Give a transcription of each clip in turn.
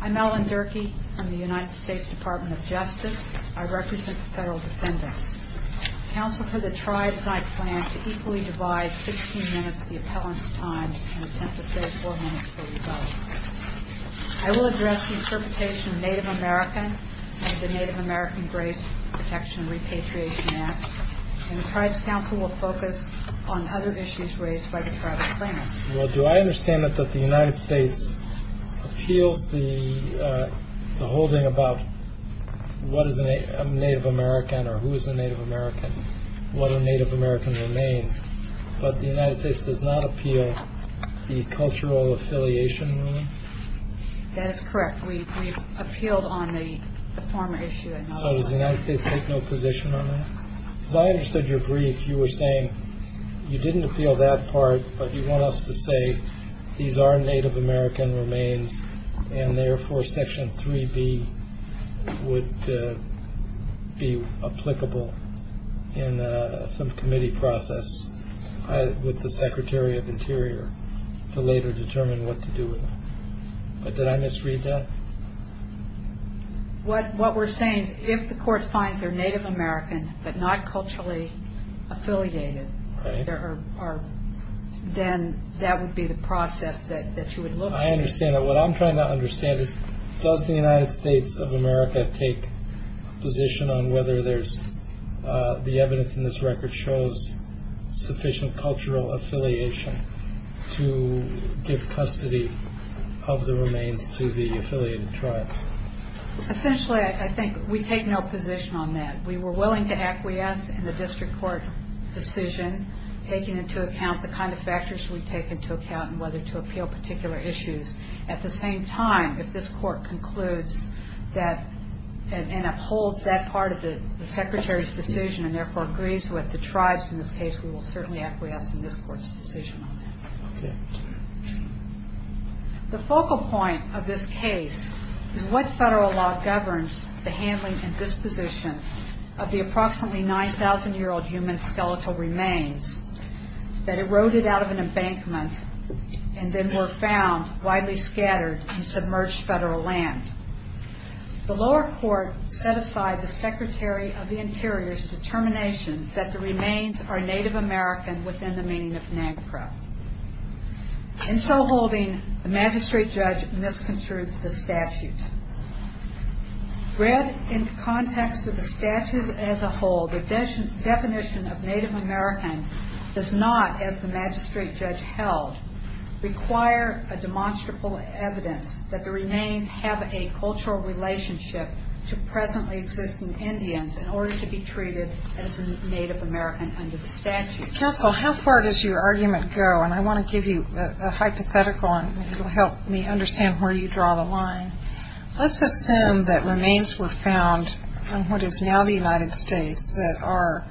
I'm Ellen Durkee from the United States Department of Justice. I represent the federal defendants. Counsel for the tribes, I plan to equally divide 16 minutes of the appellant's time and attempt to save 4 minutes for rebuttal. I will address the interpretation of Native American and the Native American Grace Protection and Repatriation Act. And the tribes council will focus on other issues raised by the tribal claimants. Well, do I understand that the United States appeals the holding about what is a Native American or who is a Native American, what a Native American remains, but the United States does not appeal the cultural affiliation? That is correct. We appealed on the former issue. So does the United States take no position on that? As I understood your brief, you were saying you didn't appeal that part, but you want us to say these are Native American remains and therefore Section 3B would be applicable in some committee process with the Secretary of Interior to later determine what to do with them. But did I misread that? What we're saying is if the court finds they're Native American but not culturally affiliated, then that would be the process that you would look at. I understand that. What I'm trying to understand is does the United States of America take position on whether there's the evidence in this record shows sufficient cultural affiliation to give custody of the remains to the affiliated tribes? Essentially, I think we take no position on that. We were willing to acquiesce in the district court decision, taking into account the kind of factors we take into account and whether to appeal particular issues. At the same time, if this court concludes and upholds that part of the Secretary's decision and therefore agrees with the tribes in this case, we will certainly acquiesce in this court's decision on that. The focal point of this case is what federal law governs the handling and disposition of the approximately 9,000-year-old human skeletal remains that eroded out of an embankment and then were found widely scattered in submerged federal land. The lower court set aside the Secretary of the Interior's determination that the remains are Native American within the meaning of NAGPRA. In so holding, the magistrate judge misconstrued the statute. Read in context of the statute as a whole, the definition of Native American does not, as the magistrate judge held, require a demonstrable evidence that the remains have a cultural relationship to presently existing Indians in order to be treated as Native American under the statute. Counsel, how far does your argument go? And I want to give you a hypothetical, and it will help me understand where you draw the line. Let's assume that remains were found in what is now the United States that are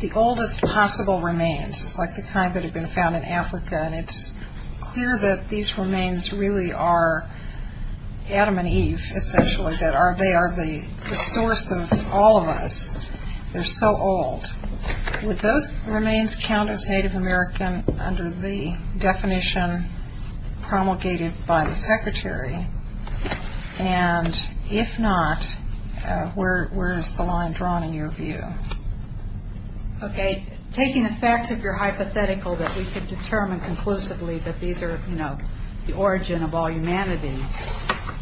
the oldest possible remains, like the kind that had been found in Africa, and it's clear that these remains really are Adam and Eve, essentially, that they are the source of all of us. They're so old. Would those remains count as Native American under the definition promulgated by the Secretary? And if not, where is the line drawn in your view? Okay. Taking the facts, if you're hypothetical, that we could determine conclusively that these are, you know, the origin of all humanity,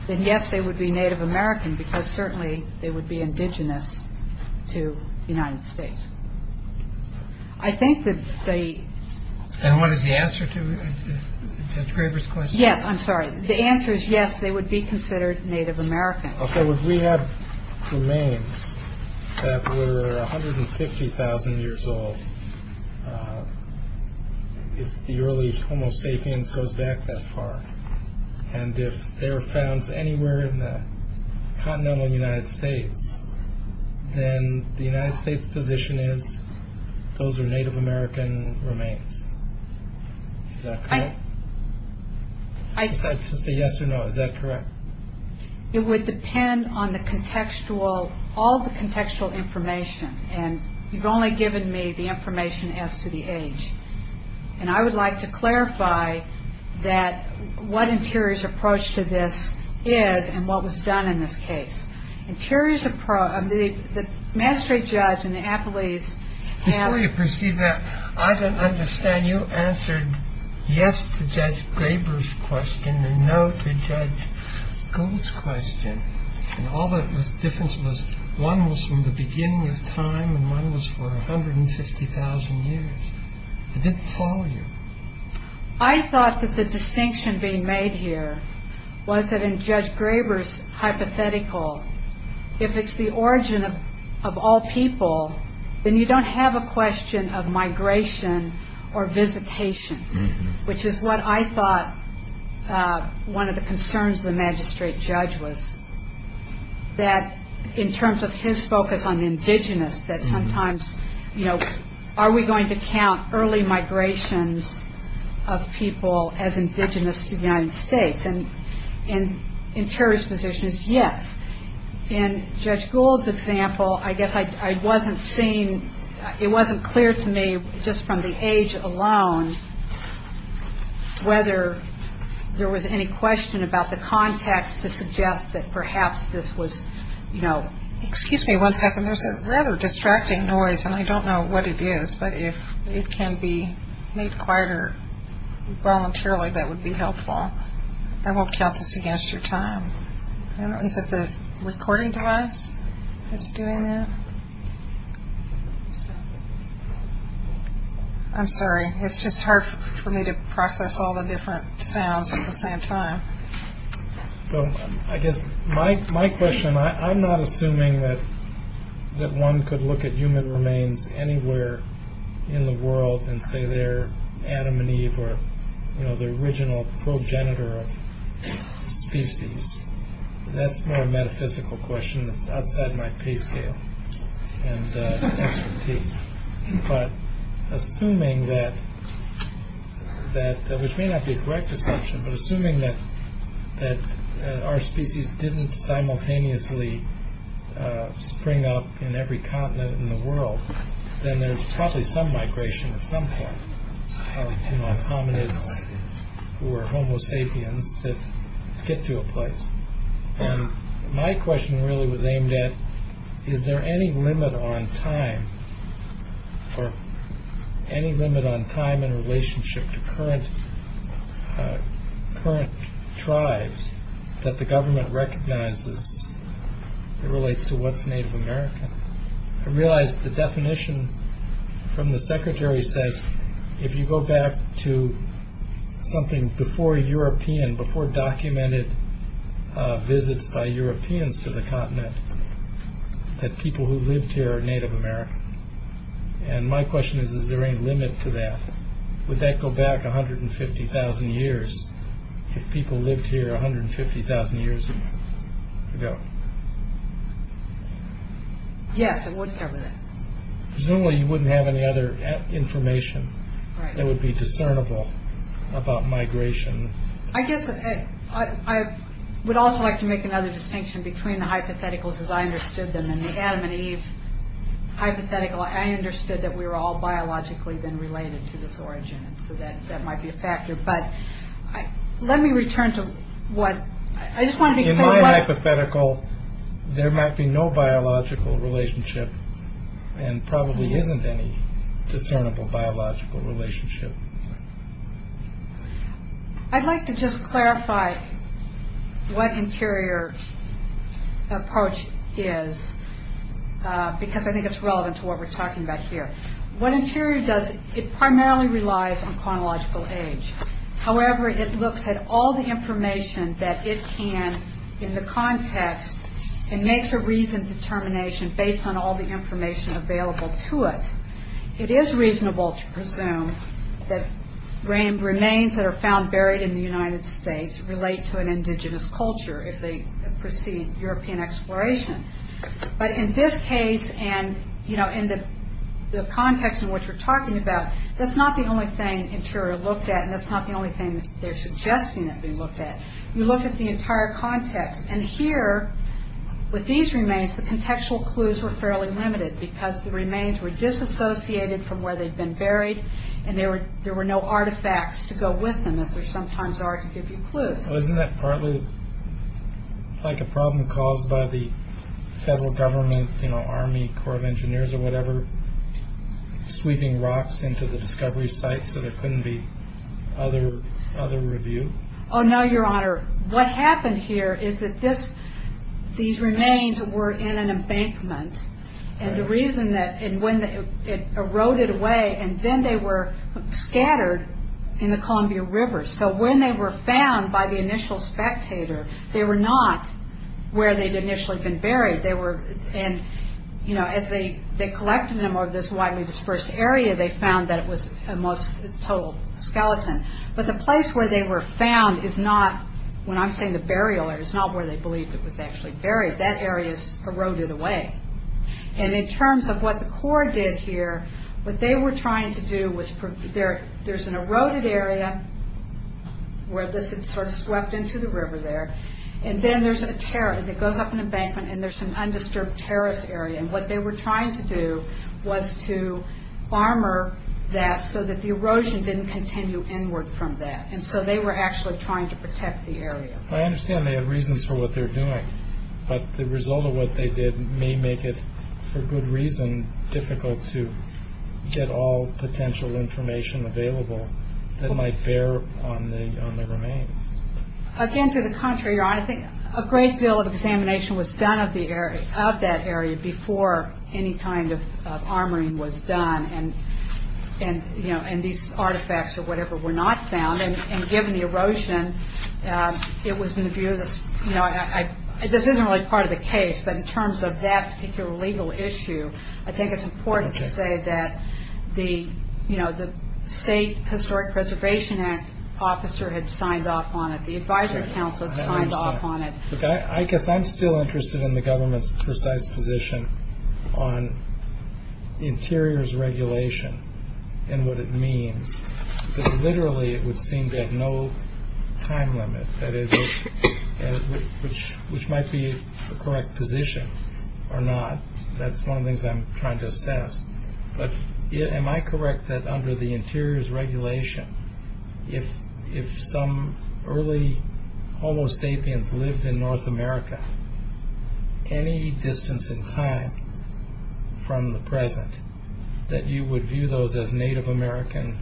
then yes, they would be Native American because certainly they would be indigenous to the United States. I think that they... And what is the answer to Judge Graber's question? Yes, I'm sorry. The answer is yes, they would be considered Native American. Okay. Would we have remains that were 150,000 years old if the early Homo sapiens goes back that far? And if they were found anywhere in the continental United States, then the United States' position is those are Native American remains. Is that correct? I... Just a yes or no. Is that correct? It would depend on the contextual, all the contextual information, and you've only given me the information as to the age. And I would like to clarify that what Interior's approach to this is and what was done in this case. Interior's approach, the mastery judge and the appellees... Before you proceed that, I don't understand. You answered yes to Judge Graber's question and no to Judge Gould's question. And all that difference was one was from the beginning of time and one was for 150,000 years. It didn't follow you. I thought that the distinction being made here was that in Judge Graber's hypothetical, if it's the origin of all people, then you don't have a question of migration or visitation, which is what I thought one of the concerns of the magistrate judge was, that in terms of his focus on indigenous, that sometimes, you know, are we going to count early migrations of people as indigenous to the United States? And Interior's position is yes. In Judge Gould's example, I guess I wasn't seeing, it wasn't clear to me just from the age alone whether there was any question about the context to suggest that perhaps this was, you know... Excuse me one second. There's a rather distracting noise, and I don't know what it is, but if it can be made quieter voluntarily, that would be helpful. I won't count this against your time. Is it the recording device that's doing that? I'm sorry. It's just hard for me to process all the different sounds at the same time. Well, I guess my question, I'm not assuming that one could look at human remains anywhere in the world and say they're Adam and Eve or, you know, the original progenitor of species. That's more a metaphysical question that's outside my pay scale and expertise. But assuming that, which may not be a correct assumption, but assuming that our species didn't simultaneously spring up in every continent in the world, then there's probably some migration at some point of hominids or homo sapiens to get to a place. And my question really was aimed at, is there any limit on time or any limit on time in relationship to current tribes that the government recognizes that relates to what's Native American? I realized the definition from the secretary says, if you go back to something before European, before documented visits by Europeans to the continent, that people who lived here are Native American. And my question is, is there any limit to that? Would that go back 150,000 years if people lived here 150,000 years ago? Yes, it would cover that. Presumably you wouldn't have any other information that would be discernible about migration. I guess I would also like to make another distinction between the hypotheticals as I understood them that might be a factor, but let me return to what I just want to be hypothetical. There might be no biological relationship and probably isn't any discernible biological relationship. I'd like to just clarify what interior approach is, because I think it's relevant to what we're talking about here. What interior does, it primarily relies on chronological age. However, it looks at all the information that it can in the context and makes a reasoned determination based on all the information available to it. It is reasonable to presume that remains that are found buried in the United States relate to an indigenous culture if they precede European exploration. But in this case and in the context in which we're talking about, that's not the only thing interior looked at and that's not the only thing they're suggesting that be looked at. You look at the entire context. Here, with these remains, the contextual clues were fairly limited because the remains were disassociated from where they'd been buried and there were no artifacts to go with them as there sometimes are to give you clues. Isn't that partly like a problem caused by the federal government, Army Corps of Engineers or whatever, sweeping rocks into the discovery sites so there couldn't be other review? No, Your Honor. What happened here is that these remains were in an embankment. The reason that it eroded away and then they were scattered in the Columbia River. When they were found by the initial spectator, they were not where they'd initially been buried. As they collected them over this widely dispersed area, they found that it was a total skeleton. But the place where they were found is not, when I'm saying the burial area, it's not where they believed it was actually buried. That area's eroded away. In terms of what the Corps did here, what they were trying to do was there's an eroded area where this had swept into the river there. Then there's a terrace that goes up an embankment and there's an undisturbed terrace area. What they were trying to do was to armor that so that the erosion didn't continue inward from that. They were actually trying to protect the area. I understand they had reasons for what they were doing, but the result of what they did may make it, for good reason, difficult to get all potential information available that might bear on the remains. Again, to the contrary, Your Honor, I think a great deal of examination was done of that area before any kind of armoring was done and these artifacts or whatever were not found. Given the erosion, this isn't really part of the case, but in terms of that particular legal issue, I think it's important to say that the State Historic Preservation Act officer had signed off on it. The advisory council had signed off on it. I guess I'm still interested in the government's precise position on interiors regulation and what it means. Because literally it would seem to have no time limit, which might be a correct position or not. That's one of the things I'm trying to assess. But am I correct that under the interiors regulation, if some early Homo sapiens lived in North America, any distance in time from the present, that you would view those as Native American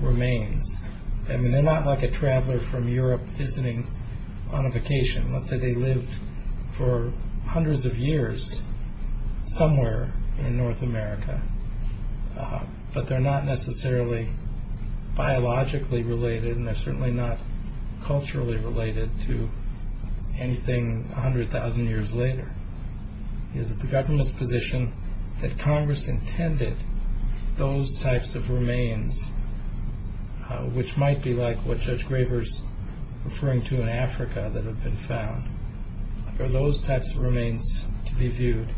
remains? I mean, they're not like a traveler from Europe visiting on a vacation. Let's say they lived for hundreds of years somewhere in North America, but they're not necessarily biologically related and they're certainly not culturally related to anything 100,000 years later. Is it the government's position that Congress intended those types of remains, which might be like what Judge Graber's referring to in Africa that have been found, are those types of remains to be viewed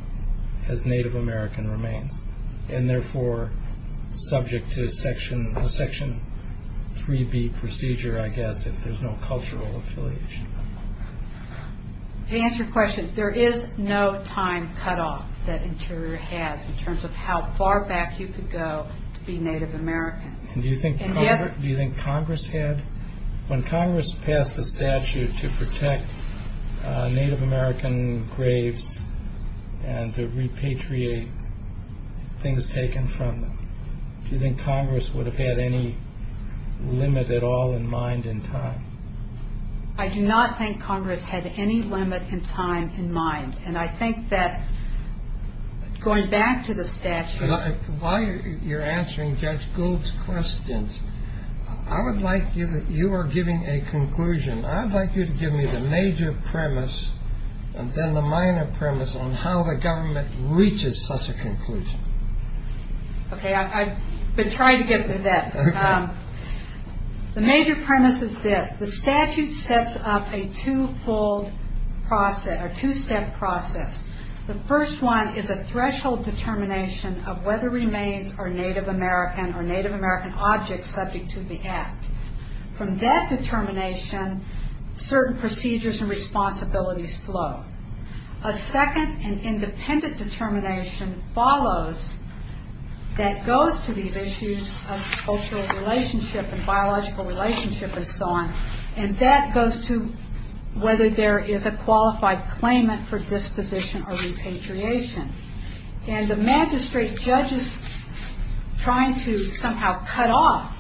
as Native American remains and therefore subject to a Section 3B procedure, I guess, if there's no cultural affiliation? To answer your question, there is no time cutoff that Interior has in terms of how far back you could go to be Native American. Do you think Congress had? When Congress passed the statute to protect Native American graves and to repatriate things taken from them, do you think Congress would have had any limit at all in mind in time? I do not think Congress had any limit in time in mind, and I think that going back to the statute... While you're answering Judge Gould's questions, I would like you... You are giving a conclusion. I'd like you to give me the major premise and then the minor premise on how the government reaches such a conclusion. Okay, I've been trying to get to that. The major premise is this. The statute sets up a two-step process. The first one is a threshold determination of whether remains are Native American or Native American objects subject to the Act. From that determination, certain procedures and responsibilities flow. A second and independent determination follows that goes to these issues of cultural relationship and biological relationship and so on, and that goes to whether there is a qualified claimant for disposition or repatriation. And the magistrate judges trying to somehow cut off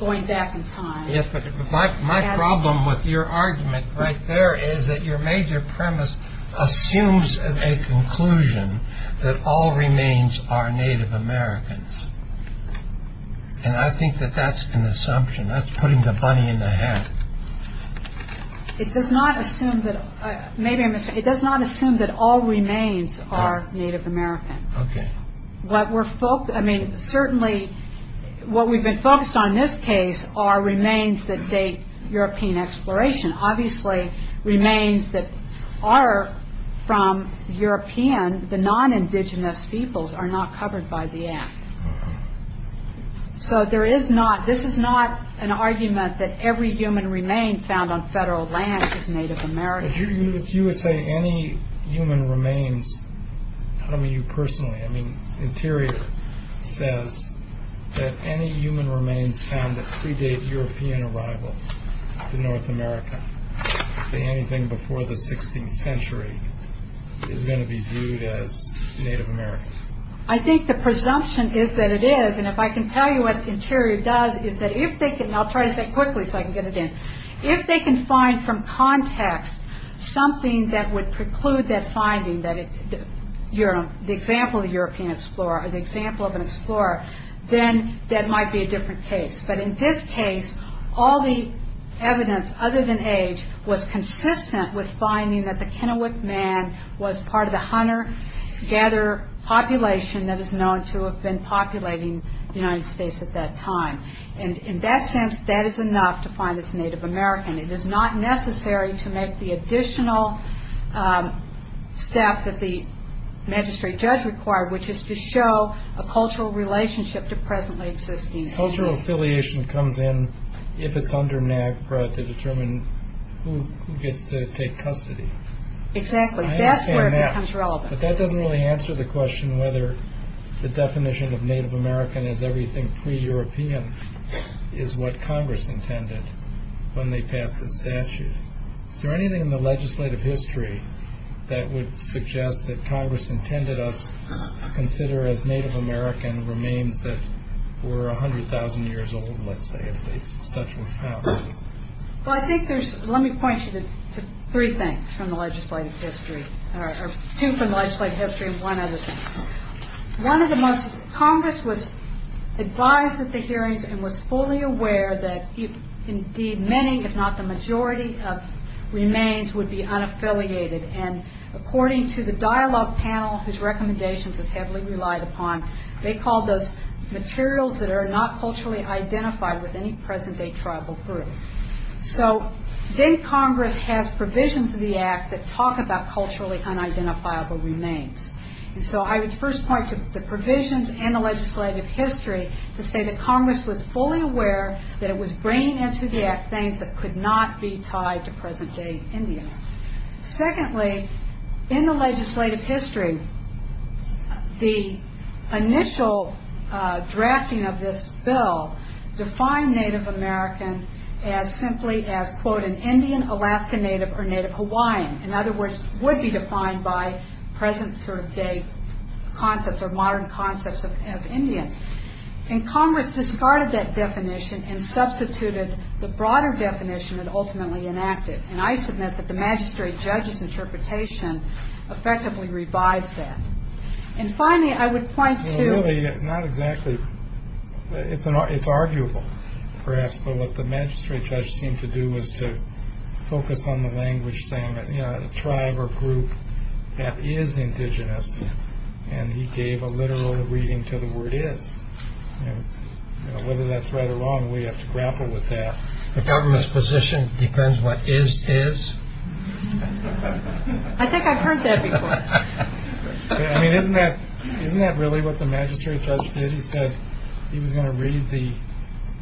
going back in time... Yes, but my problem with your argument right there is that your major premise assumes a conclusion that all remains are Native Americans, and I think that that's an assumption. That's putting the bunny in the hat. It does not assume that... Maybe I'm mistaken. It does not assume that all remains are Native American. Okay. What we're... I mean, certainly what we've been focused on in this case are remains that date European exploration, obviously remains that are from European. The non-indigenous peoples are not covered by the Act. So there is not... This is not an argument that every human remain found on federal land is Native American. If you were saying any human remains... I don't mean you personally. I mean Interior says that any human remains found that predate European arrival to North America, say anything before the 16th century, is going to be viewed as Native American. I think the presumption is that it is, and if I can tell you what Interior does is that if they can... I'll try to say it quickly so I can get it in. If they can find from context something that would preclude that finding, the example of a European explorer or the example of an explorer, then that might be a different case. But in this case, all the evidence other than age was consistent with finding that the Kennewick Man was part of the hunter-gatherer population that is known to have been populating the United States at that time. In that sense, that is enough to find it's Native American. It is not necessary to make the additional step that the magistrate judge required, which is to show a cultural relationship to presently existing... Cultural affiliation comes in if it's under NAGPRA to determine who gets to take custody. Exactly. That's where it becomes relevant. But that doesn't really answer the question whether the definition of Native American as everything pre-European is what Congress intended when they passed the statute. Is there anything in the legislative history that would suggest that Congress intended us that we're 100,000 years old, let's say, if such was passed? Well, I think there's... Let me point you to three things from the legislative history, or two from the legislative history and one other thing. One of the most... Congress was advised at the hearings and was fully aware that indeed many, if not the majority, of remains would be unaffiliated. And according to the dialogue panel, whose recommendations it heavily relied upon, they called those materials that are not culturally identified with any present-day tribal group. So then Congress has provisions of the Act that talk about culturally unidentifiable remains. And so I would first point to the provisions and the legislative history to say that Congress was fully aware that it was bringing into the Act things that could not be tied to present-day Indians. Secondly, in the legislative history, the initial drafting of this bill defined Native American as simply as, quote, an Indian, Alaska Native, or Native Hawaiian. In other words, would be defined by present-day concepts or modern concepts of Indians. And Congress discarded that definition and substituted the broader definition that ultimately enacted. And I submit that the magistrate judge's interpretation effectively revives that. And finally, I would point to... Well, really, not exactly. It's arguable, perhaps. But what the magistrate judge seemed to do was to focus on the language saying that, you know, a tribe or group that is indigenous, and he gave a literal reading to the word is. And whether that's right or wrong, we have to grapple with that. The government's position defends what is is? I think I've heard that before. I mean, isn't that really what the magistrate judge did? He said he was going to read the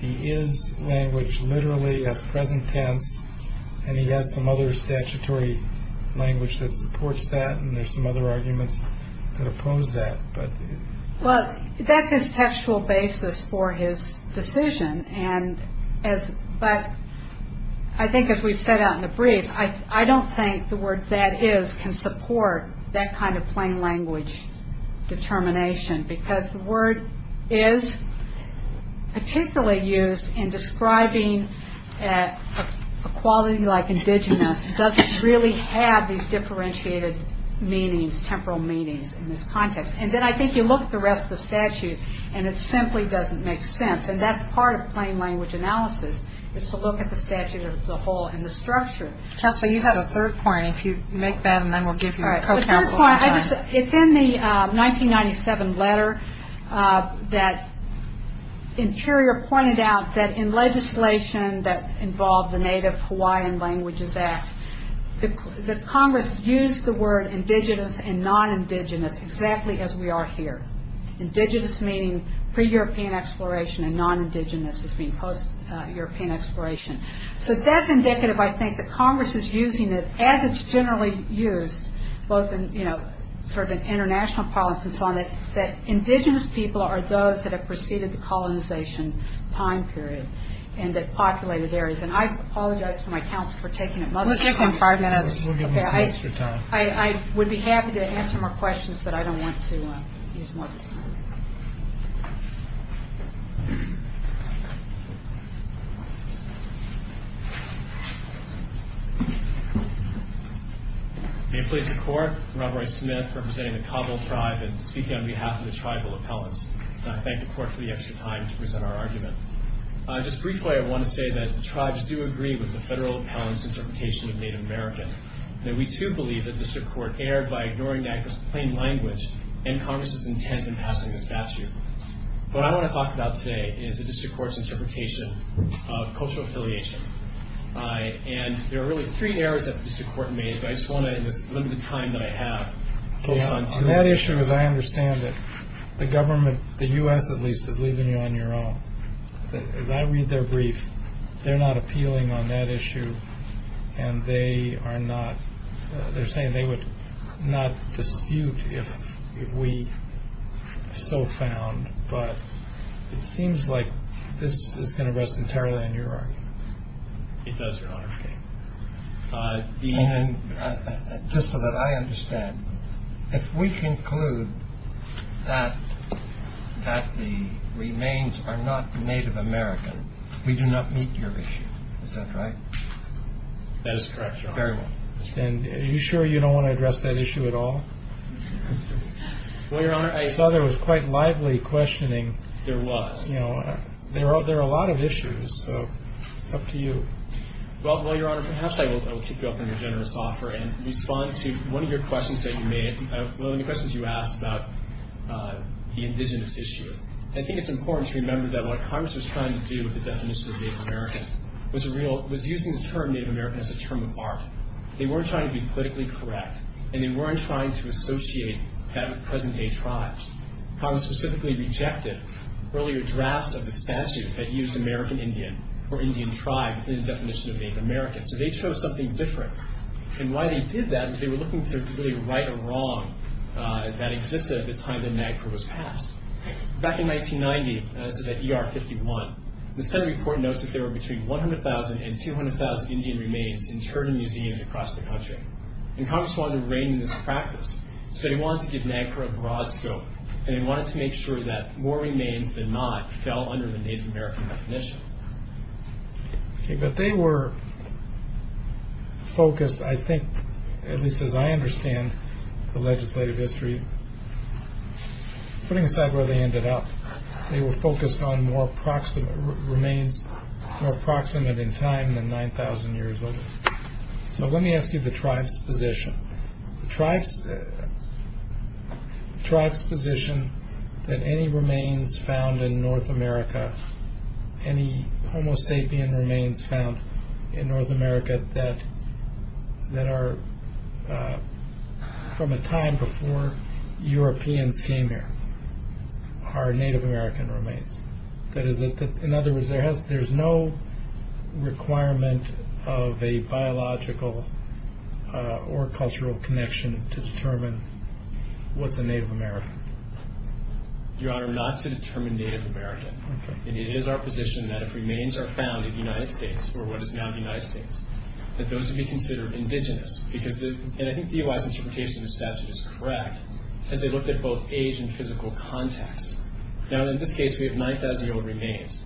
is language literally as present tense, and he has some other statutory language that supports that, and there's some other arguments that oppose that. Well, that's his textual basis for his decision. But I think as we've set out in the briefs, I don't think the word that is can support that kind of plain language determination because the word is particularly used in describing a quality like indigenous doesn't really have these differentiated meanings, temporal meanings in this context. And then I think you look at the rest of the statute, and it simply doesn't make sense. And that's part of plain language analysis is to look at the statute as a whole and the structure. Counsel, you had a third point. If you make that, and then we'll give you a co-counsel's time. The third point, it's in the 1997 letter that Interior pointed out that in legislation that involved the Native Hawaiian Languages Act, that Congress used the word indigenous and non-indigenous exactly as we are here. Indigenous meaning pre-European exploration and non-indigenous as being post-European exploration. So that's indicative, I think, that Congress is using it as it's generally used both in international politics and so on, that indigenous people are those that have preceded the colonization time period and that populated areas. And I apologize to my counsel for taking up most of the time. We'll take them five minutes. We'll give them some extra time. I would be happy to answer more questions, but I don't want to use more of this time. May it please the Court, I'm Rob Roy Smith representing the Cabo tribe and speaking on behalf of the tribal appellants. I thank the Court for the extra time to present our argument. Just briefly, I want to say that tribes do agree with the federal appellant's interpretation of Native American and that we, too, believe that this report was prepared by ignoring that plain language and Congress's intent in passing the statute. What I want to talk about today is the district court's interpretation of cultural affiliation. And there are really three errors that the district court made, but I just want to, in this limited time that I have, focus on two of them. On that issue, as I understand it, the government, the U.S. at least, is leaving you on your own. As I read their brief, they're not appealing on that issue and they are not... not dispute if we so found. But it seems like this is going to rest entirely on your argument. It does, Your Honor. Okay. Just so that I understand, if we conclude that the remains are not Native American, we do not meet your issue. Is that right? That is correct, Your Honor. Very well. And are you sure you don't want to address that issue at all? Well, Your Honor, I... I saw there was quite lively questioning. There was. You know, there are a lot of issues, so it's up to you. Well, Your Honor, perhaps I will keep you up on your generous offer and respond to one of your questions that you made. One of the questions you asked about the indigenous issue. I think it's important to remember that what Congress was trying to do with the definition of Native American was using the term Native American as a term of art. They weren't trying to be politically correct and they weren't trying to associate that with present-day tribes. Congress specifically rejected earlier drafts of the statute that used American Indian or Indian tribe within the definition of Native American. So they chose something different. And why they did that is they were looking to really right a wrong that existed at the time that NAGPRA was passed. Back in 1990, as of ER 51, the Senate report notes that there were between 100,000 and 200,000 Indian remains interred in museums across the country. And Congress wanted to rein in this practice. So they wanted to give NAGPRA a broad scope and they wanted to make sure that more remains than not fell under the Native American definition. Okay, but they were focused, I think, at least as I understand the legislative history, putting aside where they ended up, they were focused on remains more proximate in time than 9,000 years old. So let me ask you the tribe's position. The tribe's position that any remains found in North America, any Homo sapien remains found in North America that are from a time before Europeans came here, are Native American remains. That is, in other words, there's no requirement of a biological or cultural connection to determine what's a Native American. Your Honor, not to determine Native American. It is our position that if remains are found in the United States or what is now the United States, that those would be considered indigenous. And I think DOI's interpretation of the statute is correct as they looked at both age and physical context. Now, in this case, we have 9,000-year-old remains,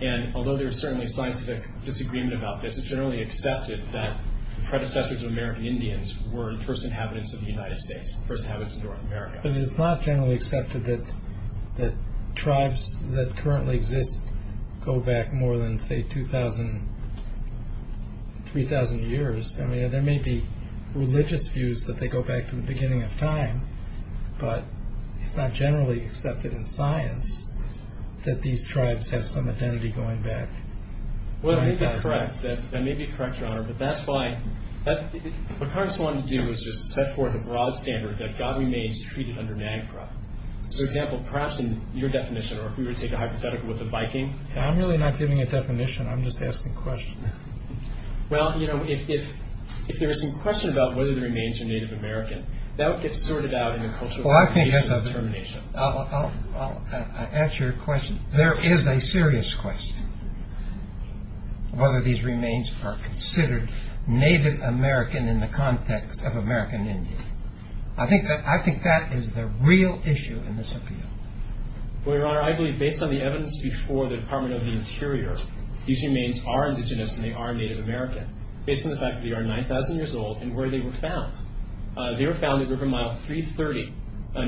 and although there's certainly scientific disagreement about this, it's generally accepted that the predecessors of American Indians were first inhabitants of the United States, first inhabitants of North America. But it's not generally accepted that tribes that currently exist go back more than, say, 2,000, 3,000 years. I mean, there may be religious views that they go back to the beginning of time, but it's not generally accepted in science that these tribes have some identity going back. Well, I think that's correct. That may be correct, Your Honor, but that's why... What Congress wanted to do was just set forth a broad standard that God remains treated under NAGPRA. So, for example, perhaps in your definition or if we were to take a hypothetical with the Viking... I'm really not giving a definition. I'm just asking questions. Well, you know, if there is some question about whether the remains are Native American, that would get sorted out in the cultural... Well, I think that's a... ...determination. I'll answer your question. There is a serious question whether these remains are considered Native American in the context of American Indian. I think that is the real issue in this appeal. Well, Your Honor, I believe based on the evidence before the Department of the Interior, these remains are indigenous and they are Native American based on the fact that they are 9,000 years old and where they were found. They were found at River Mile 330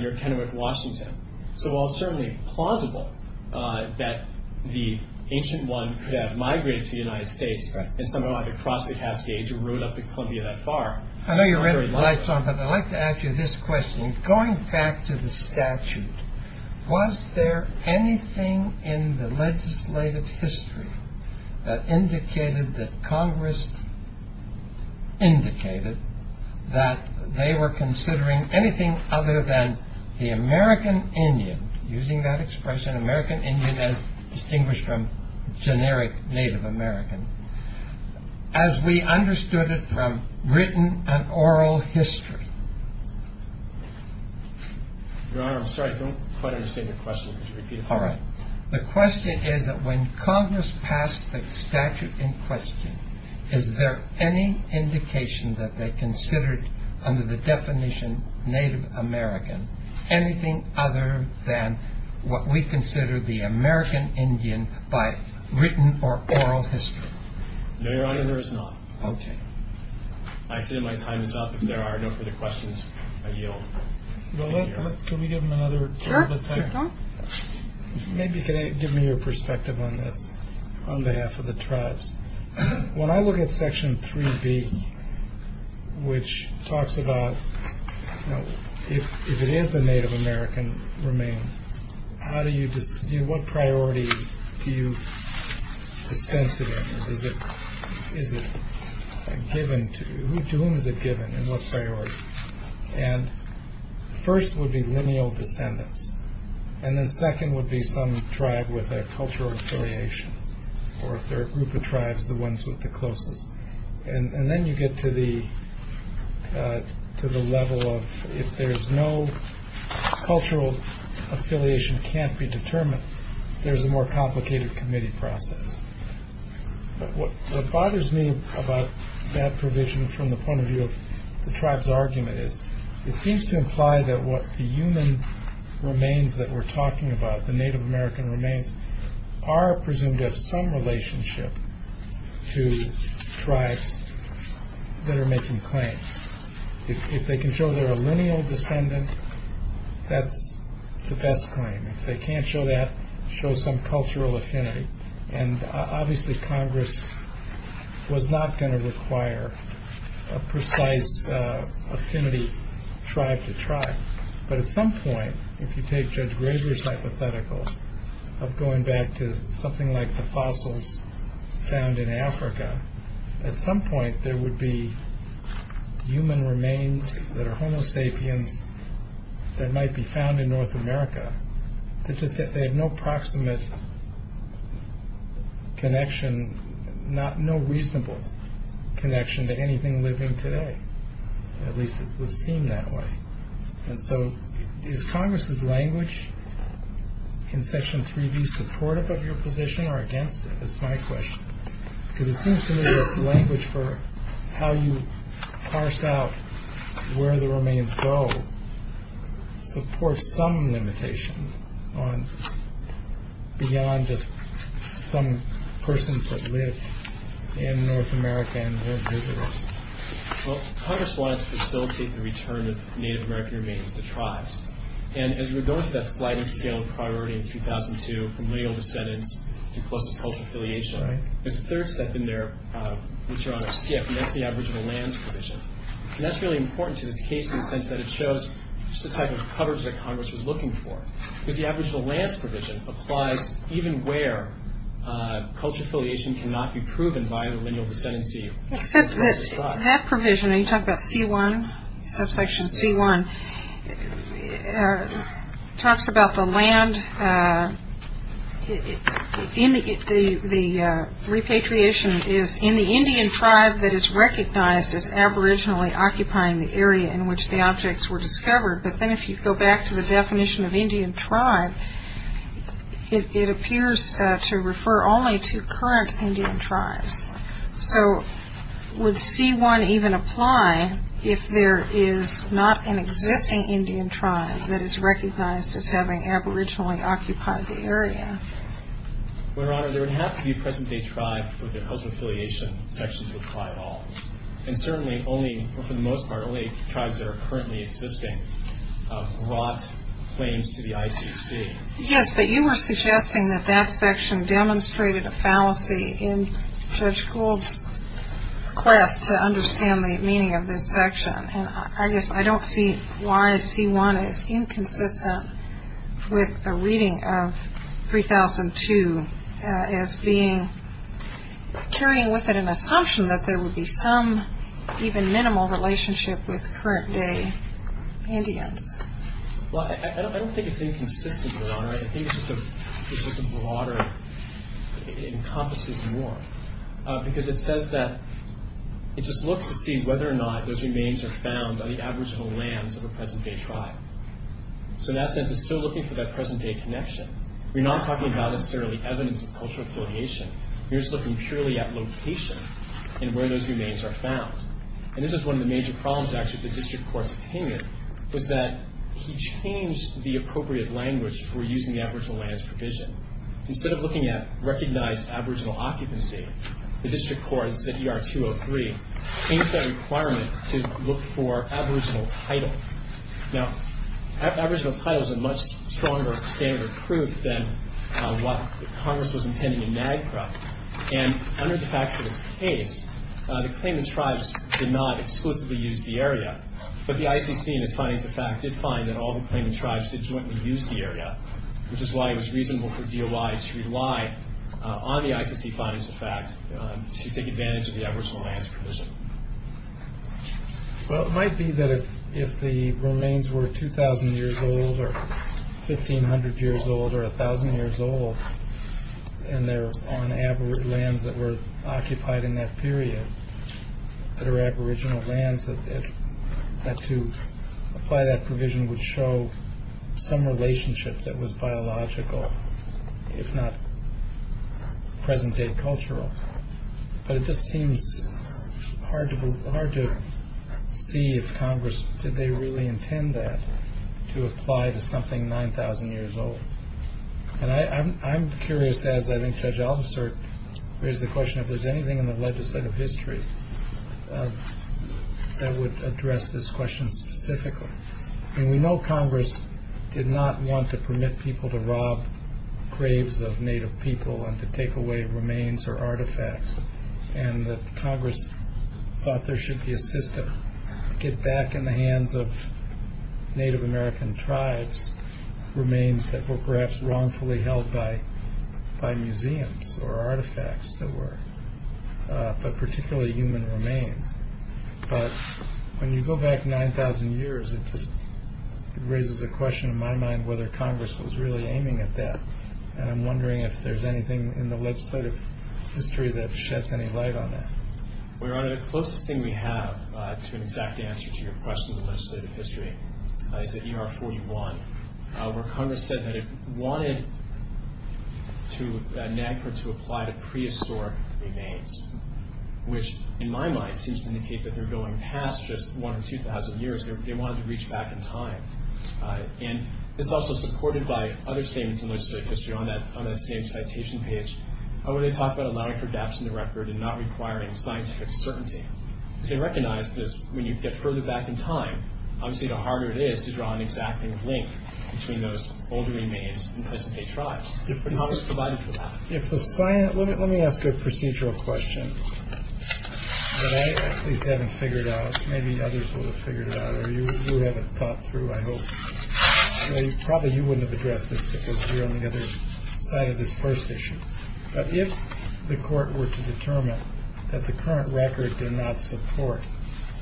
near Kennewick, Washington. So while it's certainly plausible that the ancient one could have migrated to the United States and somehow had to cross the Cascades or rode up to Columbia that far... I know you're running lights on, but I'd like to ask you this question. Going back to the statute, was there anything in the legislative history that indicated that Congress... indicated that they were considering anything other than the American Indian, using that expression, American Indian as distinguished from generic Native American, as we understood it from written and oral history? Your Honor, I'm sorry. I don't quite understand your question. Could you repeat it? All right. The question is that when Congress passed the statute in question, is there any indication that they considered under the definition Native American anything other than what we consider the American Indian by written or oral history? No, Your Honor, there is not. Okay. I say my time is up. If there are no further questions, I yield. Well, let's... Can we give them another... Sure. Sure, go on. Maybe if you could give me your perspective on this on behalf of the tribes. When I look at Section 3B, which talks about if it is a Native American remain, how do you... what priority do you dispense it in? Is it given to... to whom is it given and what's priority? And first would be lineal descendants, and then second would be some tribe with a cultural affiliation or if they're a group of tribes, the ones with the closest. And then you get to the level of if there's no... cultural affiliation can't be determined, there's a more complicated committee process. What bothers me about that provision from the point of view of the tribe's argument is it seems to imply that what the human remains that we're talking about, the Native American remains, are presumed to have some relationship to tribes that are making claims. If they can show they're a lineal descendant, that's the best claim. If they can't show that, show some cultural affinity. And obviously Congress was not going to require a precise affinity tribe to tribe. But at some point, if you take Judge Graber's hypothetical of going back to something like the fossils found in Africa, at some point there would be human remains that are Homo sapiens that might be found in North America that just have no proximate connection, no reasonable connection to anything living today. At least it would seem that way. And so is Congress's language in Section 3B supportive of your position or against it? That's my question. Because it seems to me that the language for how you parse out where the remains go supports some limitation beyond just some persons that lived in North America and were indigenous. Well, Congress wanted to facilitate the return of Native American remains to tribes. And as we go into that sliding scale of priority in 2002, from lineal descendants to closest cultural affiliation, there's a third step in there, which Your Honor skipped, and that's the aboriginal lands provision. And that's really important to this case in the sense that it shows just the type of coverage that Congress was looking for. Because the aboriginal lands provision applies even where cultural affiliation cannot be proven by the lineal descendancy of the closest tribe. Except that that provision, and you talk about C1, subsection C1, talks about the land, the repatriation is in the Indian tribe that is recognized as aboriginally occupying the area in which the objects were discovered. But then if you go back to the definition of Indian tribe, it appears to refer only to current Indian tribes. So would C1 even apply if there is not an existing Indian tribe that is recognized as having aboriginally occupied the area? Well, Your Honor, there would have to be a present-day tribe for the cultural affiliation section to apply at all. And certainly only, for the most part, only tribes that are currently existing brought claims to the ICC. Yes, but you were suggesting that that section demonstrated a fallacy in Judge Gould's quest to understand the meaning of this section. And I guess I don't see why C1 is inconsistent with a reading of 3002 as carrying with it an assumption that there would be some even minimal relationship with current-day Indians. Well, I don't think it's inconsistent, Your Honor. I think it's just a broader, it encompasses more. Because it says that it just looks to see whether or not those remains are found on the aboriginal lands of a present-day tribe. So in that sense, it's still looking for that present-day connection. We're not talking about necessarily evidence of cultural affiliation. We're just looking purely at location and where those remains are found. And this is one of the major problems, actually, with the district court's opinion, was that he changed the appropriate language for using the aboriginal lands provision. Instead of looking at recognized aboriginal occupancy, the district court, it said ER-203, changed that requirement to look for aboriginal title. Now, aboriginal title is a much stronger standard of proof than what Congress was intending in NAGPRA. And under the facts of this case, the claimant tribes did not exclusively use the area. But the ICC, in its findings of fact, did find that all the claimant tribes did jointly use the area, which is why it was reasonable for DOI to rely on the ICC findings of fact to take advantage of the aboriginal lands provision. Well, it might be that if the remains were 2,000 years old or 1,500 years old or 1,000 years old and they're on lands that were occupied in that period, that are aboriginal lands, that to apply that provision would show some relationship that was biological, if not present-day cultural. But it just seems hard to see if Congress, did they really intend that to apply to something 9,000 years old? And I'm curious, as I think Judge Albasert raised the question, if there's anything in the legislative history that would address this question specifically. I mean, we know Congress did not want to permit people to rob graves of Native people and to take away remains or artifacts, and that Congress thought there should be a system to get back in the hands of Native American tribes remains that were perhaps wrongfully held by museums or artifacts that were, but particularly human remains. But when you go back 9,000 years, it just raises a question in my mind whether Congress was really aiming at that. And I'm wondering if there's anything in the legislative history that sheds any light on that. Your Honor, the closest thing we have to an exact answer to your question in the legislative history is at ER 41, where Congress said that it wanted NAGPRA to apply to prehistoric remains, which in my mind seems to indicate that they're going past just 1 in 2,000 years. They wanted to reach back in time. And it's also supported by other statements in legislative history on that same citation page where they talk about allowing for gaps in the record and not requiring scientific certainty. They recognize that when you get further back in time, obviously the harder it is to draw an exacting link between those older remains and present-day tribes. Congress provided for that. Let me ask a procedural question that I at least haven't figured out. Maybe others would have figured it out, or you would have it thought through, I hope. Probably you wouldn't have addressed this because you're on the other side of this first issue. But if the Court were to determine that the current record did not support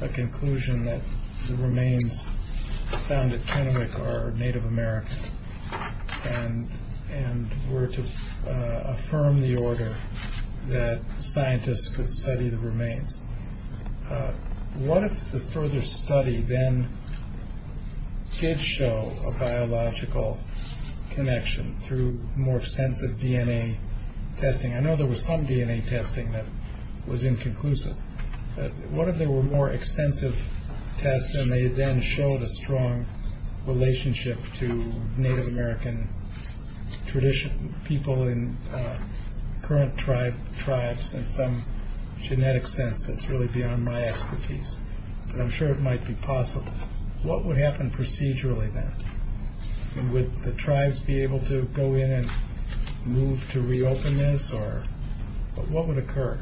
a conclusion that the remains found at Chinook are Native American and were to affirm the order that scientists could study the remains, what if the further study then did show a biological connection through more extensive DNA testing? I know there was some DNA testing that was inconclusive. What if there were more extensive tests and they then showed a strong relationship to Native American people in current tribes in some genetic sense that's really beyond my expertise? I'm sure it might be possible. What would happen procedurally then? Would the tribes be able to go in and move to reopen this? What would occur?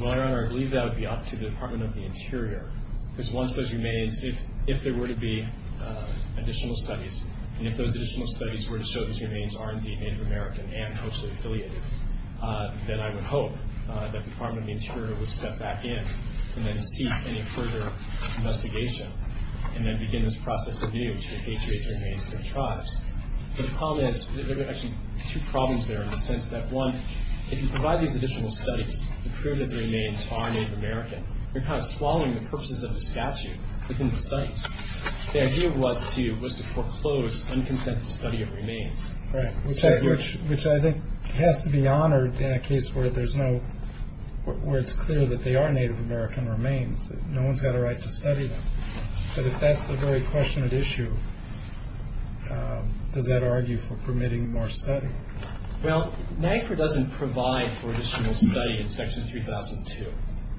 Your Honor, I believe that would be up to the Department of the Interior. Because once those remains, if there were to be additional studies, and if those additional studies were to show those remains are indeed Native American and closely affiliated, then I would hope that the Department of the Interior would step back in and then cease any further investigation and then begin this process anew to repatriate the remains to the tribes. But the problem is, there are actually two problems there in the sense that, one, if you provide these additional studies to prove that the remains are Native American, you're kind of swallowing the purposes of the statute within the studies. The idea was to foreclose unconsented study of remains. Right, which I think has to be honored in a case where it's clear that they are Native American remains, that no one's got a right to study them. But if that's the very question at issue, does that argue for permitting more study? Well, NAGPRA doesn't provide for additional study in Section 3002.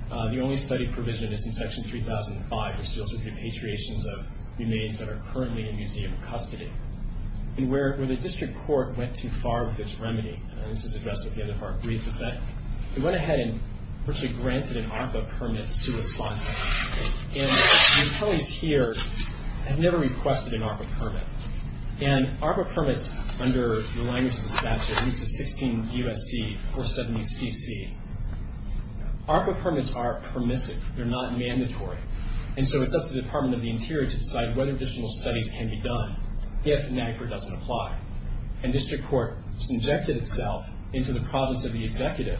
The only study provision is in Section 3005, which deals with repatriations of remains that are currently in museum custody. And where the district court went too far with its remedy, and this is addressed at the end of our brief, is that it went ahead and virtually granted an ARPA permit to respond to that. And the attorneys here have never requested an ARPA permit. And ARPA permits under the language of the statute, at least the 16 U.S.C. 470CC, ARPA permits are permissive. They're not mandatory. And so it's up to the Department of the Interior to decide whether additional studies can be done. If NAGPRA doesn't apply. And district court injected itself into the province of the executive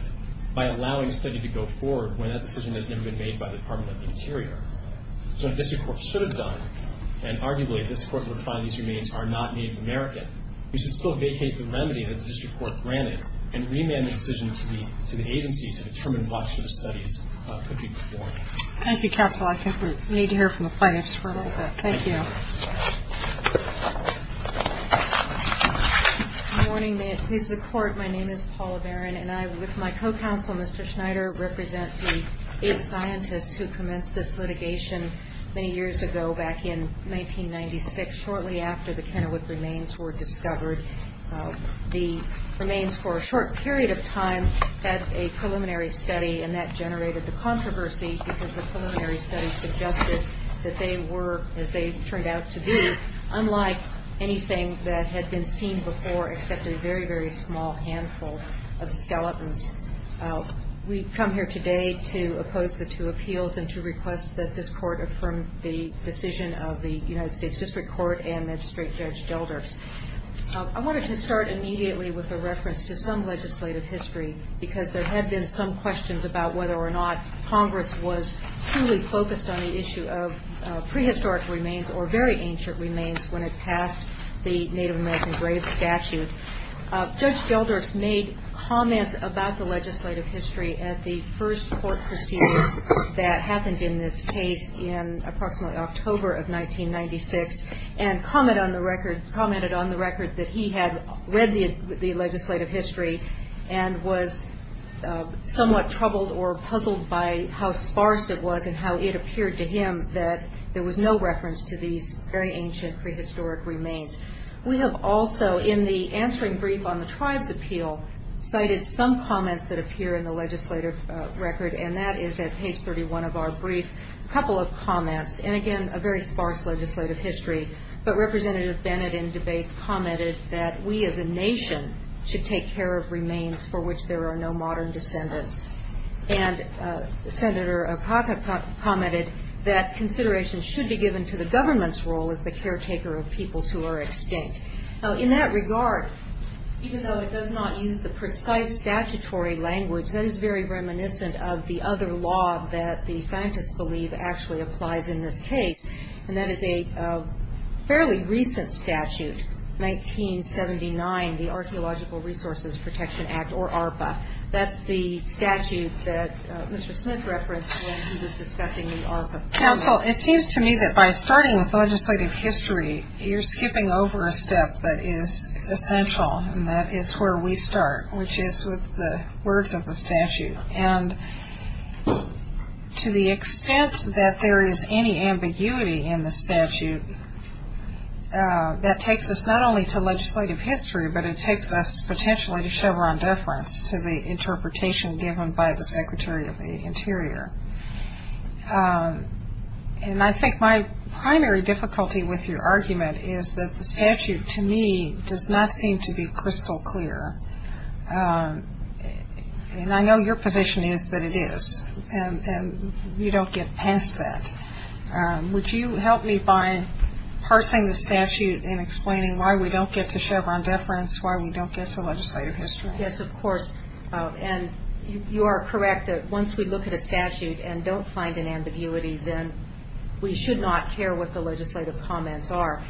by allowing study to go forward when that decision has never been made by the Department of the Interior. So what district court should have done, and arguably a district court would find these remains are not Native American, we should still vacate the remedy that the district court granted and remand the decision to the agency to determine what sort of studies could be performed. Thank you, Counselor. I think we need to hear from the plaintiffs for a little bit. Thank you. Good morning. May it please the Court. My name is Paula Barron, and I, with my co-counsel, Mr. Schneider, represent the aid scientist who commenced this litigation many years ago, back in 1996, shortly after the Kennewick remains were discovered. The remains, for a short period of time, had a preliminary study, and that generated the controversy because the preliminary study suggested that they were, as they turned out to be, unlike anything that had been seen before except a very, very small handful of skeletons. We've come here today to oppose the two appeals and to request that this Court affirm the decision of the United States District Court and Magistrate Judge Gelders. I wanted to start immediately with a reference to some legislative history because there had been some questions about whether or not Congress was fully focused on the issue of prehistoric remains or very ancient remains when it passed the Native American grave statute. Judge Gelders made comments about the legislative history at the first court proceeding that happened in this case in approximately October of 1996 and commented on the record that he had read the legislative history and was somewhat troubled or puzzled by how sparse it was and how it appeared to him that there was no reference to these very ancient prehistoric remains. We have also, in the answering brief on the tribe's appeal, cited some comments that appear in the legislative record, and that is at page 31 of our brief, a couple of comments, and again, a very sparse legislative history, but Representative Bennett in debates commented that we as a nation should take care of remains for which there are no modern descendants, and Senator Apaka commented that consideration should be given to the government's role as the caretaker of peoples who are extinct. In that regard, even though it does not use the precise statutory language, that is very reminiscent of the other law that the scientists believe actually applies in this case, and that is a fairly recent statute, 1979, the Archaeological Resources Protection Act, or ARPA. That's the statute that Mr. Smith referenced when he was discussing the ARPA problem. Counsel, it seems to me that by starting with legislative history, you're skipping over a step that is essential, and that is where we start, which is with the words of the statute, and to the extent that there is any ambiguity in the statute, that takes us not only to legislative history, but it takes us potentially to Chevron deference to the interpretation given by the Secretary of the Interior, and I think my primary difficulty with your argument is that the statute, to me, does not seem to be crystal clear, and I know your position is that it is, and we don't get past that. Would you help me by parsing the statute and explaining why we don't get to Chevron deference, why we don't get to legislative history? Yes, of course, and you are correct that once we look at a statute and don't find an ambiguity, then we should not care what the legislative comments are.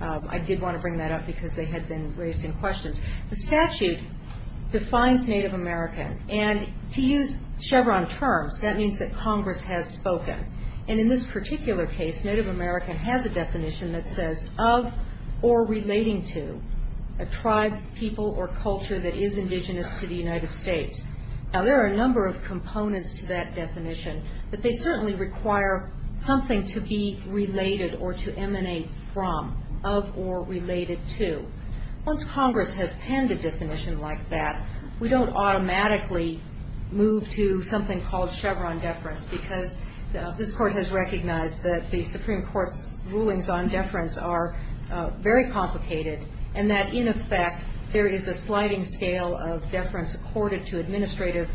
I did want to bring that up because they had been raised in questions. The statute defines Native American, and to use Chevron terms, that means that Congress has spoken, and in this particular case, Native American has a definition that says of or relating to a tribe, people, or culture that is indigenous to the United States. Now, there are a number of components to that definition, but they certainly require something to be related or to emanate from, of or related to. Once Congress has penned a definition like that, we don't automatically move to something called Chevron deference because this Court has recognized that the Supreme Court's rulings on deference are very complicated and that, in effect, there is a sliding scale of deference accorded to administrative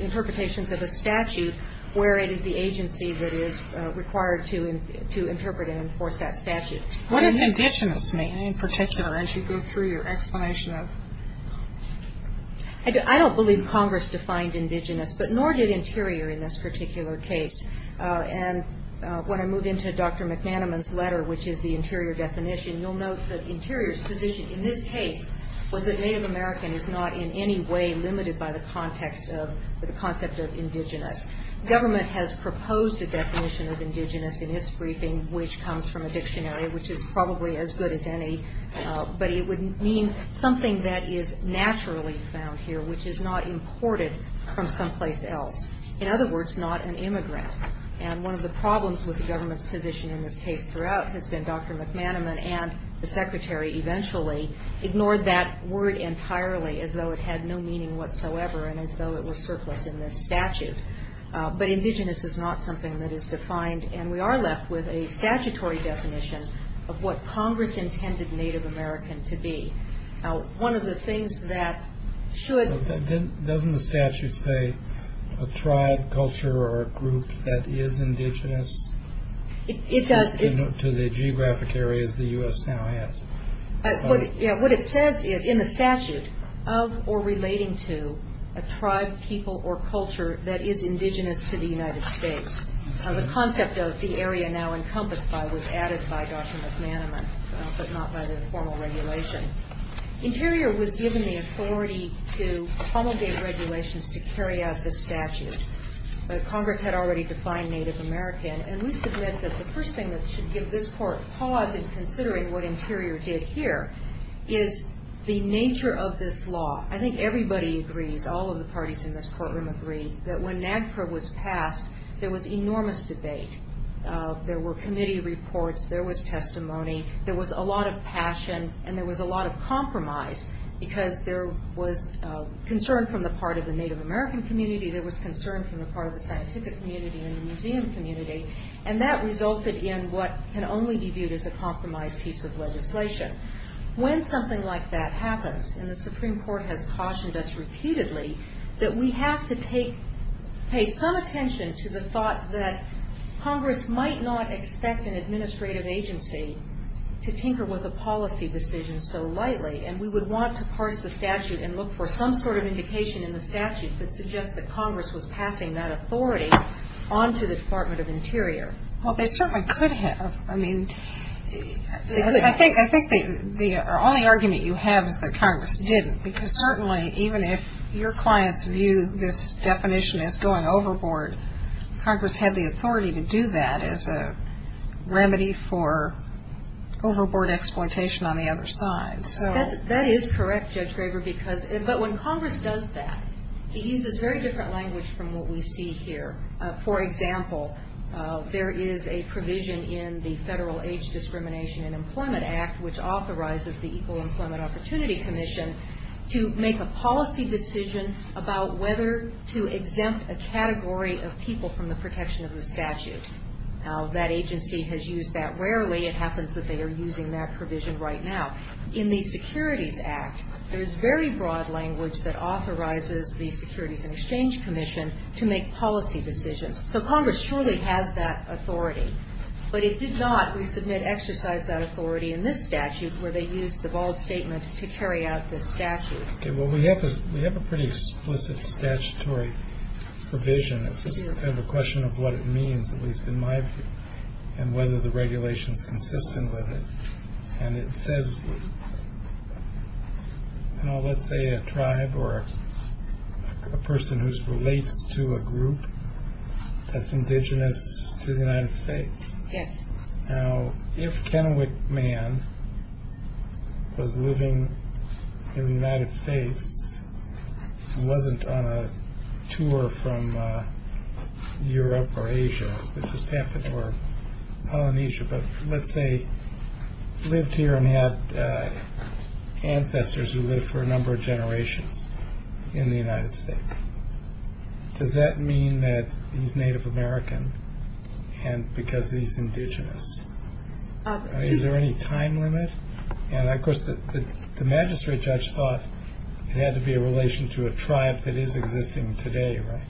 interpretations of a statute where it is the agency that is required to interpret and enforce that statute. What does indigenous mean, in particular, as you go through your explanation of it? I don't believe Congress defined indigenous, but nor did Interior in this particular case. And when I moved into Dr. McManaman's letter, which is the Interior definition, you'll note that Interior's position in this case was that Native American is not in any way limited by the context of the concept of indigenous. Government has proposed a definition of indigenous in its briefing, which comes from a dictionary, which is probably as good as any, but it would mean something that is naturally found here, which is not imported from someplace else. In other words, not an immigrant. And one of the problems with the government's position in this case throughout has been Dr. McManaman and the Secretary eventually ignored that word entirely as though it had no meaning whatsoever and as though it was surplus in this statute. But indigenous is not something that is defined, and we are left with a statutory definition of what Congress intended Native American to be. Now, one of the things that should... Doesn't the statute say a tribe, culture, or a group that is indigenous? It does. To the geographic areas the U.S. now has. What it says is in the statute, of or relating to a tribe, people, or culture that is indigenous to the United States. The concept of the area now encompassed by was added by Dr. McManaman, but not by the formal regulation. Interior was given the authority to promulgate regulations to carry out this statute, but Congress had already defined Native American, and we submit that the first thing that should give this court pause in considering what Interior did here is the nature of this law. I think everybody agrees, all of the parties in this courtroom agree, that when NAGPRA was passed, there was enormous debate. There were committee reports. There was testimony. There was a lot of passion, and there was a lot of compromise because there was concern from the part of the Native American community. There was concern from the part of the scientific community and the museum community, and that resulted in what can only be viewed as a compromised piece of legislation. When something like that happens, and the Supreme Court has cautioned us repeatedly, that we have to pay some attention to the thought that Congress might not expect an administrative agency to tinker with a policy decision so lightly, and we would want to parse the statute and look for some sort of indication in the statute that suggests that Congress was passing that authority onto the Department of Interior. Well, they certainly could have. I mean, I think the only argument you have is that Congress didn't because certainly even if your clients view this definition as going overboard, Congress had the authority to do that as a remedy for overboard exploitation on the other side. That is correct, Judge Graber, but when Congress does that, it uses very different language from what we see here. For example, there is a provision in the Federal Age Discrimination and Employment Act which authorizes the Equal Employment Opportunity Commission to make a policy decision about whether to exempt a category of people from the protection of the statute. Now, that agency has used that rarely. It happens that they are using that provision right now. In the Securities Act, there is very broad language that authorizes the Securities and Exchange Commission to make policy decisions. So Congress surely has that authority, but it did not, we submit, exercise that authority in this statute where they used the bald statement to carry out this statute. Okay, well, we have a pretty explicit statutory provision. It's just kind of a question of what it means, at least in my view, and whether the regulation is consistent with it. And it says, you know, let's say a tribe or a person who relates to a group that's indigenous to the United States. Yes. Now, if Kennewick Man was living in the United States and wasn't on a tour from Europe or Asia, it just happened, or Polynesia, but let's say lived here and had ancestors who lived for a number of generations in the United States, does that mean that he's Native American and because he's indigenous? Is there any time limit? And, of course, the magistrate judge thought it had to be a relation to a tribe that is existing today, right?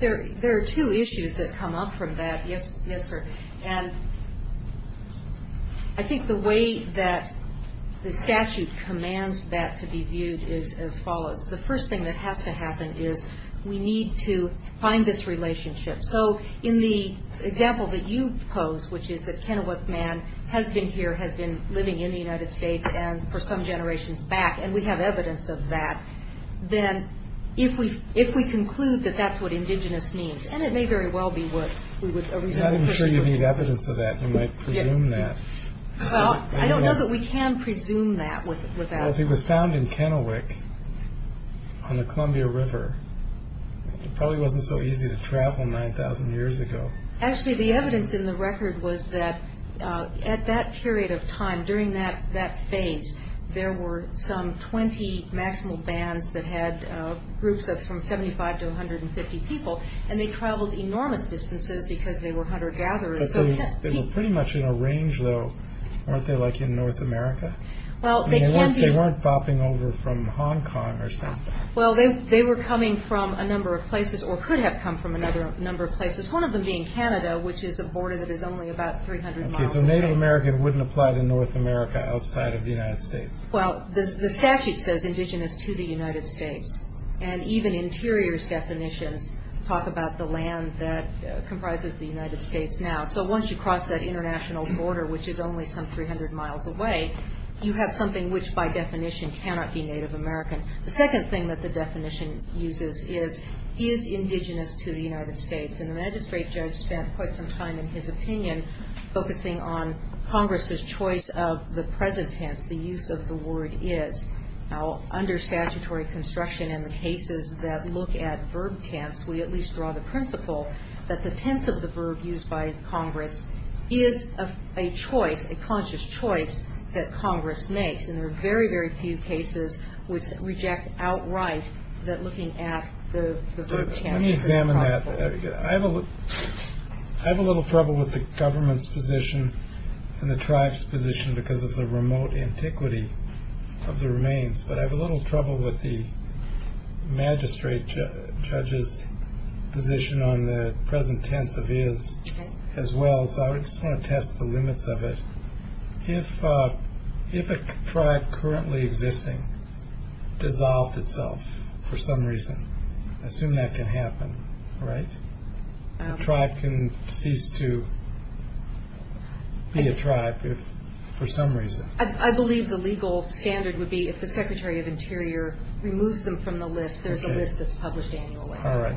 There are two issues that come up from that, yes, sir. And I think the way that the statute commands that to be viewed is as follows. The first thing that has to happen is we need to find this relationship. So in the example that you posed, which is that Kennewick Man has been here, has been living in the United States for some generations back, and we have evidence of that, then if we conclude that that's what indigenous means, and it may very well be what we would presume. I'm not even sure you need evidence of that. You might presume that. Well, I don't know that we can presume that. Well, if he was found in Kennewick on the Columbia River, it probably wasn't so easy to travel 9,000 years ago. Actually, the evidence in the record was that at that period of time, during that phase, there were some 20 national bands that had groups of from 75 to 150 people, and they traveled enormous distances because they were hunter-gatherers. They were pretty much in a range, though, weren't they, like in North America? Well, they can be. They weren't bopping over from Hong Kong or something. Well, they were coming from a number of places, or could have come from a number of places, one of them being Canada, which is a border that is only about 300 miles away. Okay, so Native American wouldn't apply to North America outside of the United States. Well, the statute says indigenous to the United States, and even interiors definitions talk about the land that comprises the United States now. So once you cross that international border, which is only some 300 miles away, you have something which by definition cannot be Native American. The second thing that the definition uses is is indigenous to the United States, and the magistrate judge spent quite some time in his opinion focusing on Congress's choice of the present tense, the use of the word is. Now, under statutory construction in the cases that look at verb tense, we at least draw the principle that the tense of the verb used by Congress is a choice, a conscious choice, that Congress makes, and there are very, very few cases which reject outright that looking at the verb tense is possible. Let me examine that. I have a little trouble with the government's position and the tribe's position because of the remote antiquity of the remains, but I have a little trouble with the magistrate judge's position on the present tense of is as well, so I just want to test the limits of it. If a tribe currently existing dissolved itself for some reason, I assume that can happen, right? A tribe can cease to be a tribe for some reason. I believe the legal standard would be if the Secretary of Interior removes them from the list, there's a list that's published annually. All right.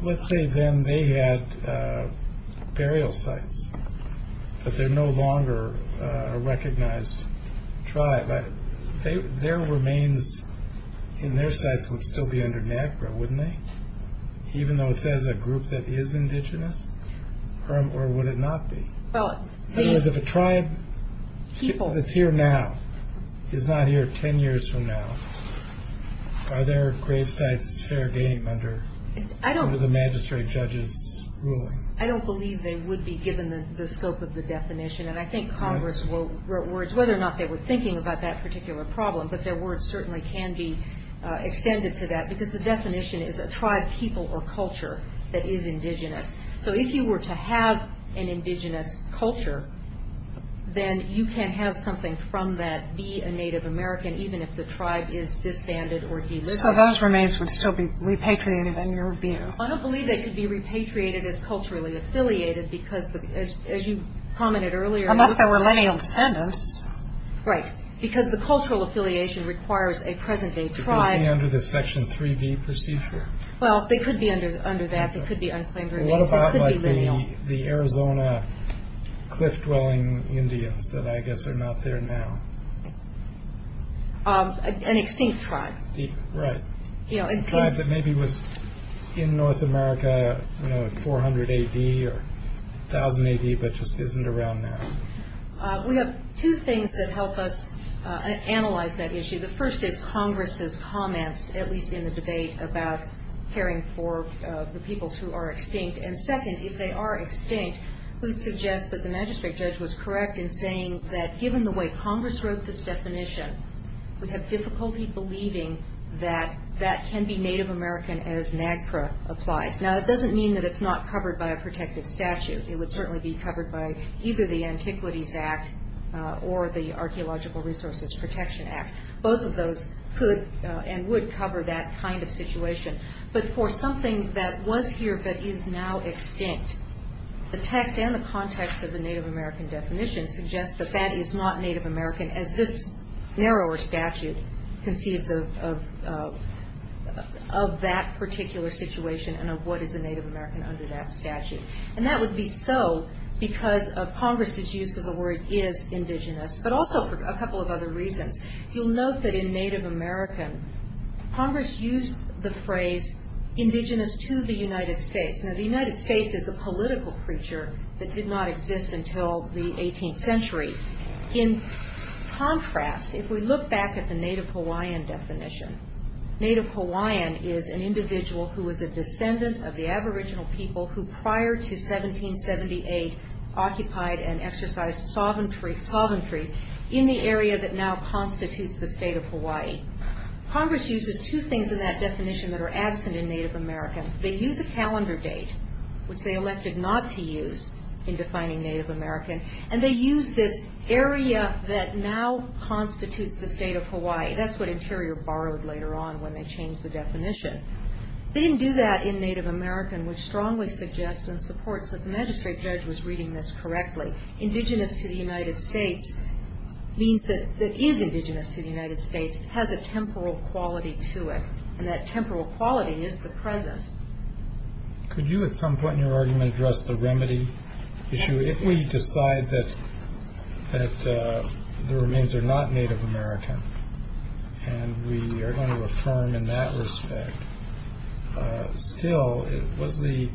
Let's say then they had burial sites, but they're no longer a recognized tribe. Their remains in their sites would still be under NAGPRA, wouldn't they? Even though it says a group that is indigenous, or would it not be? In other words, if a tribe that's here now is not here 10 years from now, are their grave sites fair game under the magistrate judge's ruling? I don't believe they would be given the scope of the definition, and I think Congress wrote words whether or not they were thinking about that particular problem, but their words certainly can be extended to that because the definition is a tribe, people, or culture that is indigenous. So if you were to have an indigenous culture, then you can have something from that be a Native American even if the tribe is disbanded or delisted. So those remains would still be repatriated in your view? I don't believe they could be repatriated as culturally affiliated because, as you commented earlier. Unless they were lineal descendants. Right. Because the cultural affiliation requires a present-day tribe. They could be under the Section 3B procedure. Well, they could be under that. They could be unclaimed remains. They could be lineal. What about the Arizona cliff-dwelling Indians that I guess are not there now? An extinct tribe. Right. A tribe that maybe was in North America in 400 A.D. or 1,000 A.D. but just isn't around now. We have two things that help us analyze that issue. The first is Congress's comments, at least in the debate, about caring for the peoples who are extinct. And second, if they are extinct, we'd suggest that the magistrate judge was correct in saying that given the way Congress wrote this definition, we have difficulty believing that that can be Native American as NAGPRA applies. Now, that doesn't mean that it's not covered by a protective statute. It would certainly be covered by either the Antiquities Act or the Archaeological Resources Protection Act. Both of those could and would cover that kind of situation. But for something that was here but is now extinct, the text and the context of the Native American definition suggests that that is not Native American as this narrower statute conceives of that particular situation and of what is a Native American under that statute. And that would be so because of Congress's use of the word is indigenous, but also for a couple of other reasons. You'll note that in Native American, Congress used the phrase indigenous to the United States. Now, the United States is a political creature that did not exist until the 18th century. In contrast, if we look back at the Native Hawaiian definition, Native Hawaiian is an individual who is a descendant of the aboriginal people who prior to 1778 occupied and exercised sovereignty in the area that now constitutes the state of Hawaii. Congress uses two things in that definition that are absent in Native American. They use a calendar date, which they elected not to use in defining Native American, and they use this area that now constitutes the state of Hawaii. That's what Interior borrowed later on when they changed the definition. They didn't do that in Native American, which strongly suggests and supports that the magistrate judge was reading this correctly. Indigenous to the United States means that it is indigenous to the United States. It has a temporal quality to it, and that temporal quality is the present. Could you at some point in your argument address the remedy issue? If we decide that the remains are not Native American and we are going to affirm in that respect, still was the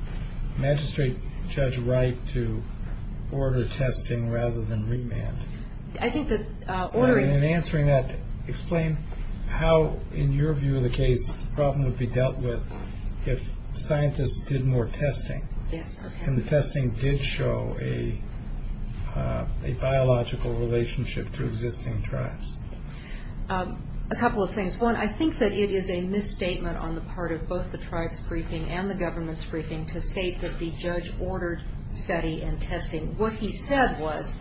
magistrate judge right to order testing rather than remand? In answering that, explain how, in your view of the case, the problem would be dealt with if scientists did more testing and the testing did show a biological relationship to existing tribes. A couple of things. One, I think that it is a misstatement on the part of both the tribes' briefing and the government's briefing to state that the judge ordered study and testing. What he said was,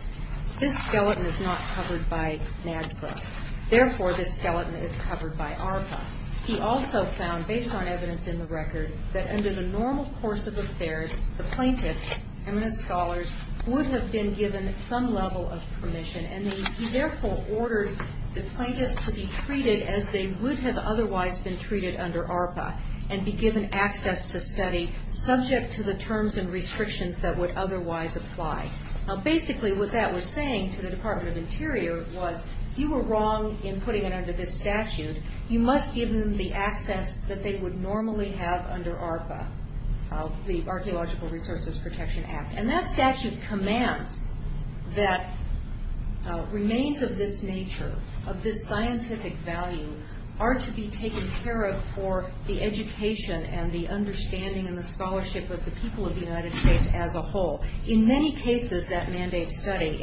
this skeleton is not covered by NAGPRA. Therefore, this skeleton is covered by ARPA. He also found, based on evidence in the record, that under the normal course of affairs, the plaintiffs, eminent scholars, would have been given some level of permission, and he therefore ordered the plaintiffs to be treated as they would have otherwise been treated under ARPA and be given access to study subject to the terms and restrictions that would otherwise apply. Basically, what that was saying to the Department of Interior was, you were wrong in putting it under this statute. You must give them the access that they would normally have under ARPA, the Archaeological Resources Protection Act. And that statute commands that remains of this nature, of this scientific value, are to be taken care of for the education and the understanding and the scholarship of the people of the United States as a whole. In many cases, that mandates study,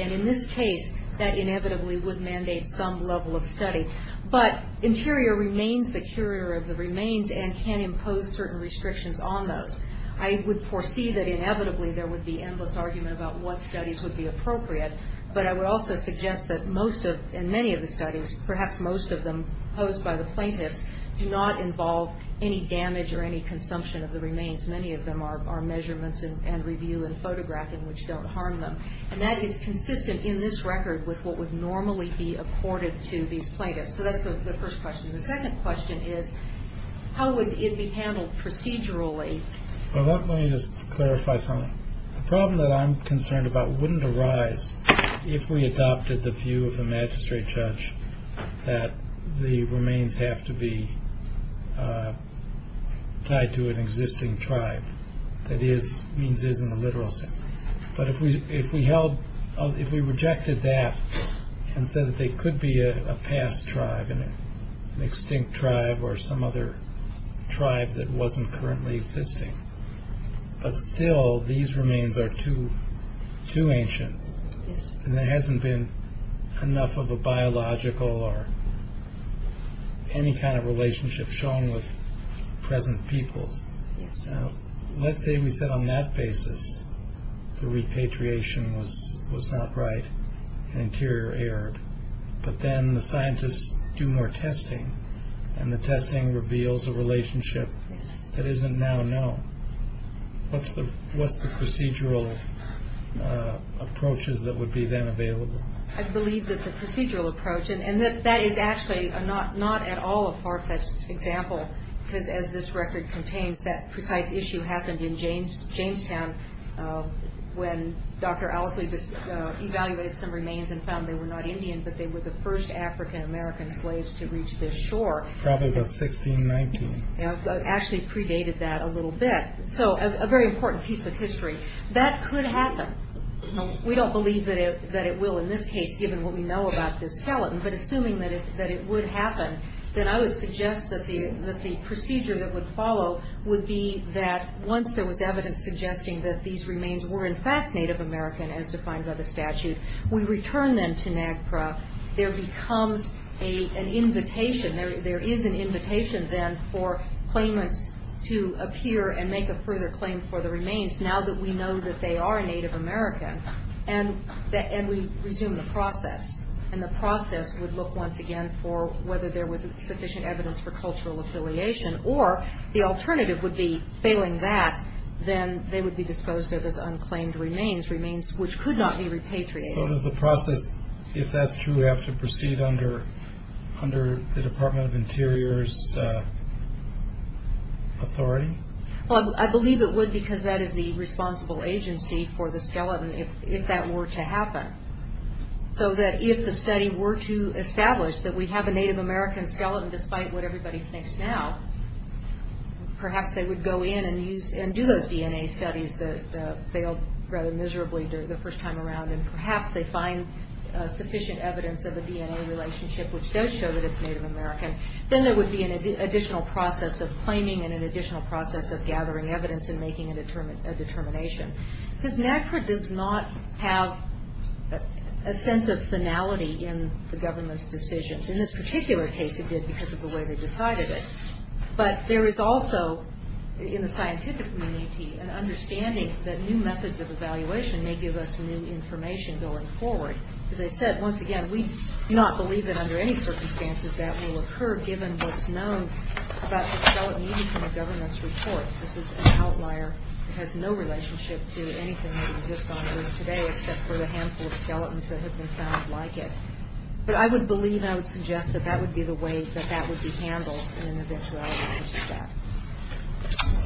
but Interior remains the curator of the remains and can impose certain restrictions on those. I would foresee that inevitably there would be endless argument about what studies would be appropriate, but I would also suggest that most of, in many of the studies, perhaps most of them posed by the plaintiffs, do not involve any damage or any consumption of the remains. Many of them are measurements and review and photographing, which don't harm them. And that is consistent in this record with what would normally be accorded to these plaintiffs. So that's the first question. The second question is, how would it be handled procedurally? Well, let me just clarify something. The problem that I'm concerned about wouldn't arise if we adopted the view of the magistrate judge that the remains have to be tied to an existing tribe. That is, means is in the literal sense. But if we held, if we rejected that and said that they could be a past tribe, an extinct tribe or some other tribe that wasn't currently existing, but still these remains are too ancient and there hasn't been enough of a biological or any kind of relationship shown with present peoples. Let's say we said on that basis the repatriation was not right, an interior error. But then the scientists do more testing and the testing reveals a relationship that isn't now known. What's the procedural approaches that would be then available? I believe that the procedural approach, and that is actually not at all a far-fetched example because as this record contains, that precise issue happened in Jamestown when Dr. Owsley just evaluated some remains and found they were not Indian, but they were the first African-American slaves to reach this shore. Probably about 1619. Actually predated that a little bit. So a very important piece of history. That could happen. We don't believe that it will in this case given what we know about this skeleton. But assuming that it would happen, then I would suggest that the procedure that would follow would be that once there was evidence suggesting that these remains were in fact Native American as defined by the statute, we return them to NAGPRA. There becomes an invitation, there is an invitation then for claimants to appear and make a further claim for the remains now that we know that they are Native American. And we resume the process. And the process would look once again for whether there was sufficient evidence for cultural affiliation or the alternative would be failing that, then they would be disposed of as unclaimed remains, remains which could not be repatriated. So does the process, if that's true, have to proceed under the Department of Interior's authority? Well, I believe it would because that is the responsible agency for the skeleton if that were to happen. So that if the study were to establish that we have a Native American skeleton despite what everybody thinks now, perhaps they would go in and do those DNA studies that failed rather miserably the first time around and perhaps they find sufficient evidence of a DNA relationship which does show that it's Native American. Then there would be an additional process of claiming and an additional process of gathering evidence and making a determination. Because NAGPRA does not have a sense of finality in the government's decisions. In this particular case, it did because of the way they decided it. But there is also, in the scientific community, an understanding that new methods of evaluation may give us new information going forward. As I said, once again, we do not believe that under any circumstances that will occur given what's known about the skeleton even from the government's reports. This is an outlier. It has no relationship to anything that exists on Earth today except for the handful of skeletons that have been found like it. But I would believe and I would suggest that that would be the way that that would be handled in an eventuality such as that.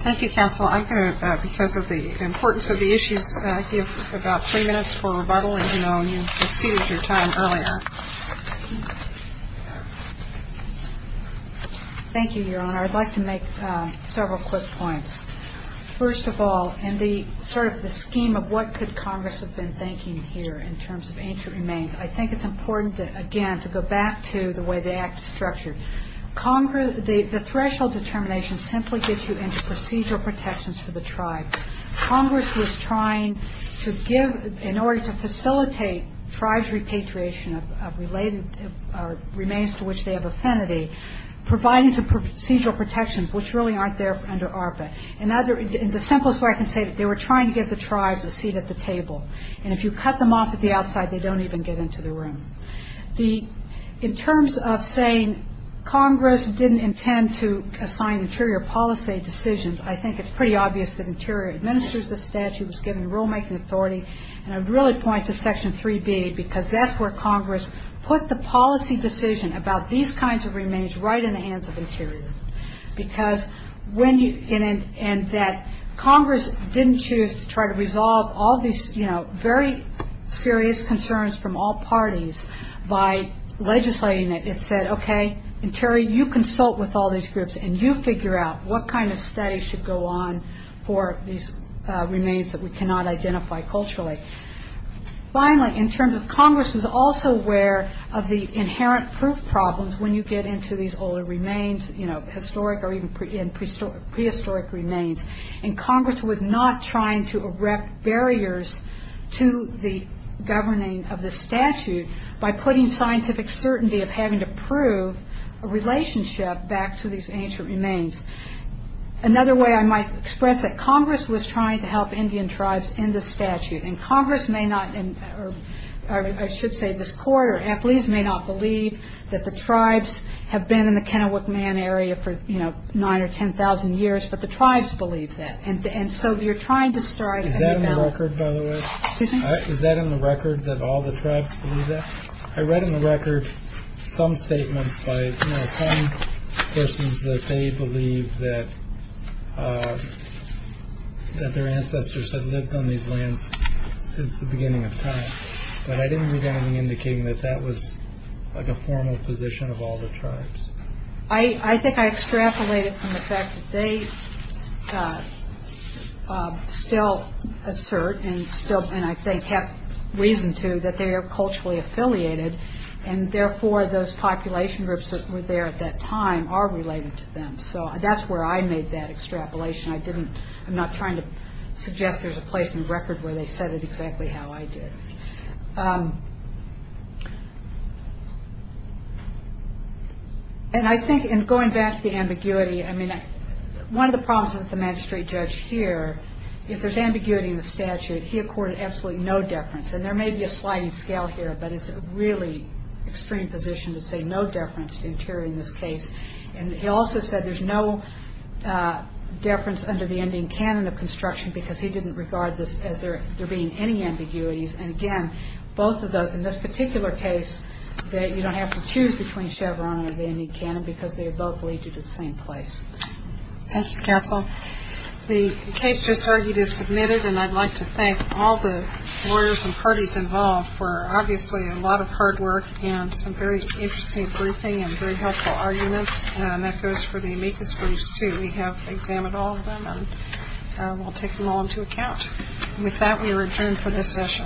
Thank you, Counsel. I'm going to, because of the importance of the issues, give about three minutes for rebuttal. I know you exceeded your time earlier. Thank you, Your Honor. I'd like to make several quick points. First of all, in the scheme of what could Congress have been thinking here in terms of ancient remains, I think it's important, again, to go back to the way the Act is structured. The threshold determination simply gets you into procedural protections for the tribe. Congress was trying to give, in order to facilitate tribes' repatriation of remains to which they have affinity, providing some procedural protections, which really aren't there under ARPA. And the simplest way I can say it, they were trying to give the tribes a seat at the table. And if you cut them off at the outside, they don't even get into the room. In terms of saying Congress didn't intend to assign interior policy decisions, I think it's pretty obvious that interior administers the statute. It's given rulemaking authority. And I'd really point to Section 3B because that's where Congress put the policy decision about these kinds of remains right in the hands of interior. And that Congress didn't choose to try to resolve all these very serious concerns from all parties by legislating it. It said, okay, interior, you consult with all these groups and you figure out what kind of study should go on for these remains that we cannot identify culturally. Finally, in terms of Congress was also aware of the inherent proof problems when you get into these older remains, historic or even prehistoric remains. And Congress was not trying to erect barriers to the governing of the statute by putting scientific certainty of having to prove a relationship back to these ancient remains. Another way I might express it, Congress was trying to help Indian tribes in the statute. And Congress may not, or I should say, this court or athletes may not believe that the tribes have been in the Kennewick Man area for 9 or 10,000 years, but the tribes believe that. And so you're trying to start a balance. Is that in the record, by the way? Excuse me? Is that in the record that all the tribes believe that? I read in the record some statements by some persons that they believe that their ancestors had lived on these lands since the beginning of time. But I didn't read anything indicating that that was a formal position of all the tribes. I think I extrapolated from the fact that they still assert and I think have reason to that they are culturally affiliated, and therefore those population groups that were there at that time are related to them. So that's where I made that extrapolation. I'm not trying to suggest there's a place in the record where they said it exactly how I did. And I think in going back to the ambiguity, one of the problems with the magistrate judge here is there's ambiguity in the statute. He accorded absolutely no deference. And there may be a sliding scale here, but it's a really extreme position to say there's no deference to interior in this case. And he also said there's no deference under the ending canon of construction because he didn't regard this as there being any ambiguities. And again, both of those in this particular case, you don't have to choose between Chevron or the ending canon because they both lead you to the same place. Thank you, counsel. The case just argued is submitted, and I'd like to thank all the lawyers and parties involved for obviously a lot of hard work and some very interesting briefing and very helpful arguments. And that goes for the amicus groups, too. We have examined all of them, and we'll take them all into account. With that, we return for this session.